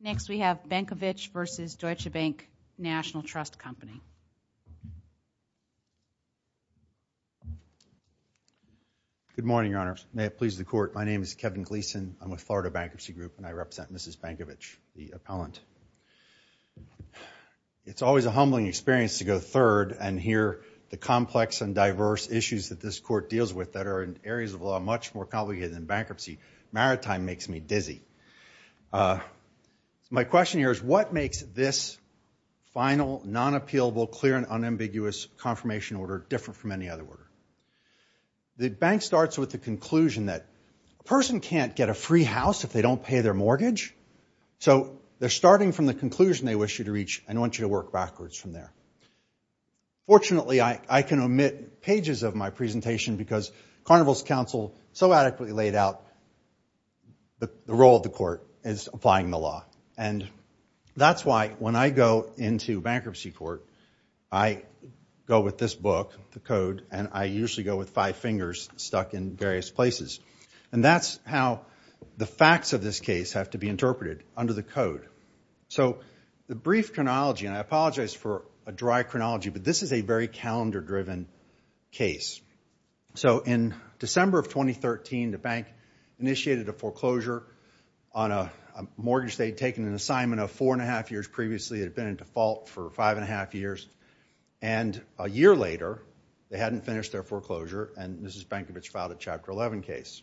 Next, we have Benkovitch v. Deutsche Bank National Trust Co. Good morning, Your Honor. May it please the Court, my name is Kevin Gleason. I'm with Florida Bankruptcy Group and I represent Mrs. Benkovitch, the appellant. It's always a humbling experience to go third and hear the complex and diverse issues that this Court deals with that are in areas of law much more complicated than bankruptcy. Maritime makes me dizzy. My question here is, what makes this final, non-appealable, clear and unambiguous confirmation order different from any other order? The bank starts with the conclusion that a person can't get a free house if they don't pay their mortgage. So, they're starting from the conclusion they wish you to reach and want you to work backwards from there. Fortunately, I can omit pages of my presentation because Carnival's counsel so adequately laid out the role of the Court as applying the law. And that's why when I go into bankruptcy court, I go with this book, the code, and I usually go with five fingers stuck in various places. And that's how the facts of this case have to be interpreted under the code. So, the bankruptcy case. So, in December of 2013, the bank initiated a foreclosure on a mortgage they'd taken an assignment of four and a half years previously had been in default for five and a half years. And a year later, they hadn't finished their foreclosure and Mrs. Bankovich filed a Chapter 11 case.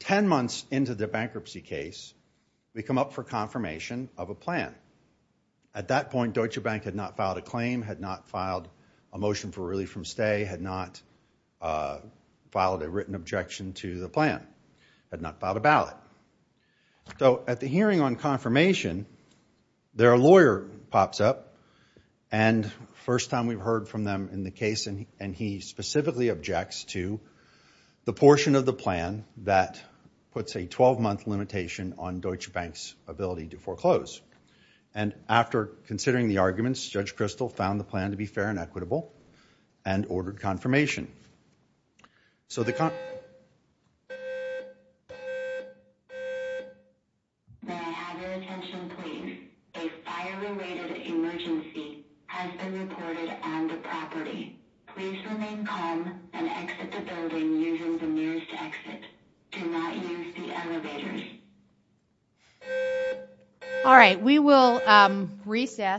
Ten months into the bankruptcy case, we come up for confirmation of a plan. At that point, Deutsche Bank had not filed a claim, had not filed a motion for early from stay, had not filed a written objection to the plan, had not filed a ballot. So, at the hearing on confirmation, their lawyer pops up and first time we've heard from them in the case and he specifically objects to the portion of the plan that puts a 12-month limitation on Deutsche Bank's ability to foreclose. And after considering the arguments, Judge Kristol found the plan to be fair and equitable and ordered confirmation. So, the con- May I have your attention please? A fire-related emergency has been reported on the property. Please remain calm and exit the building using the nearest exit. Do not use the exit door. Thank you.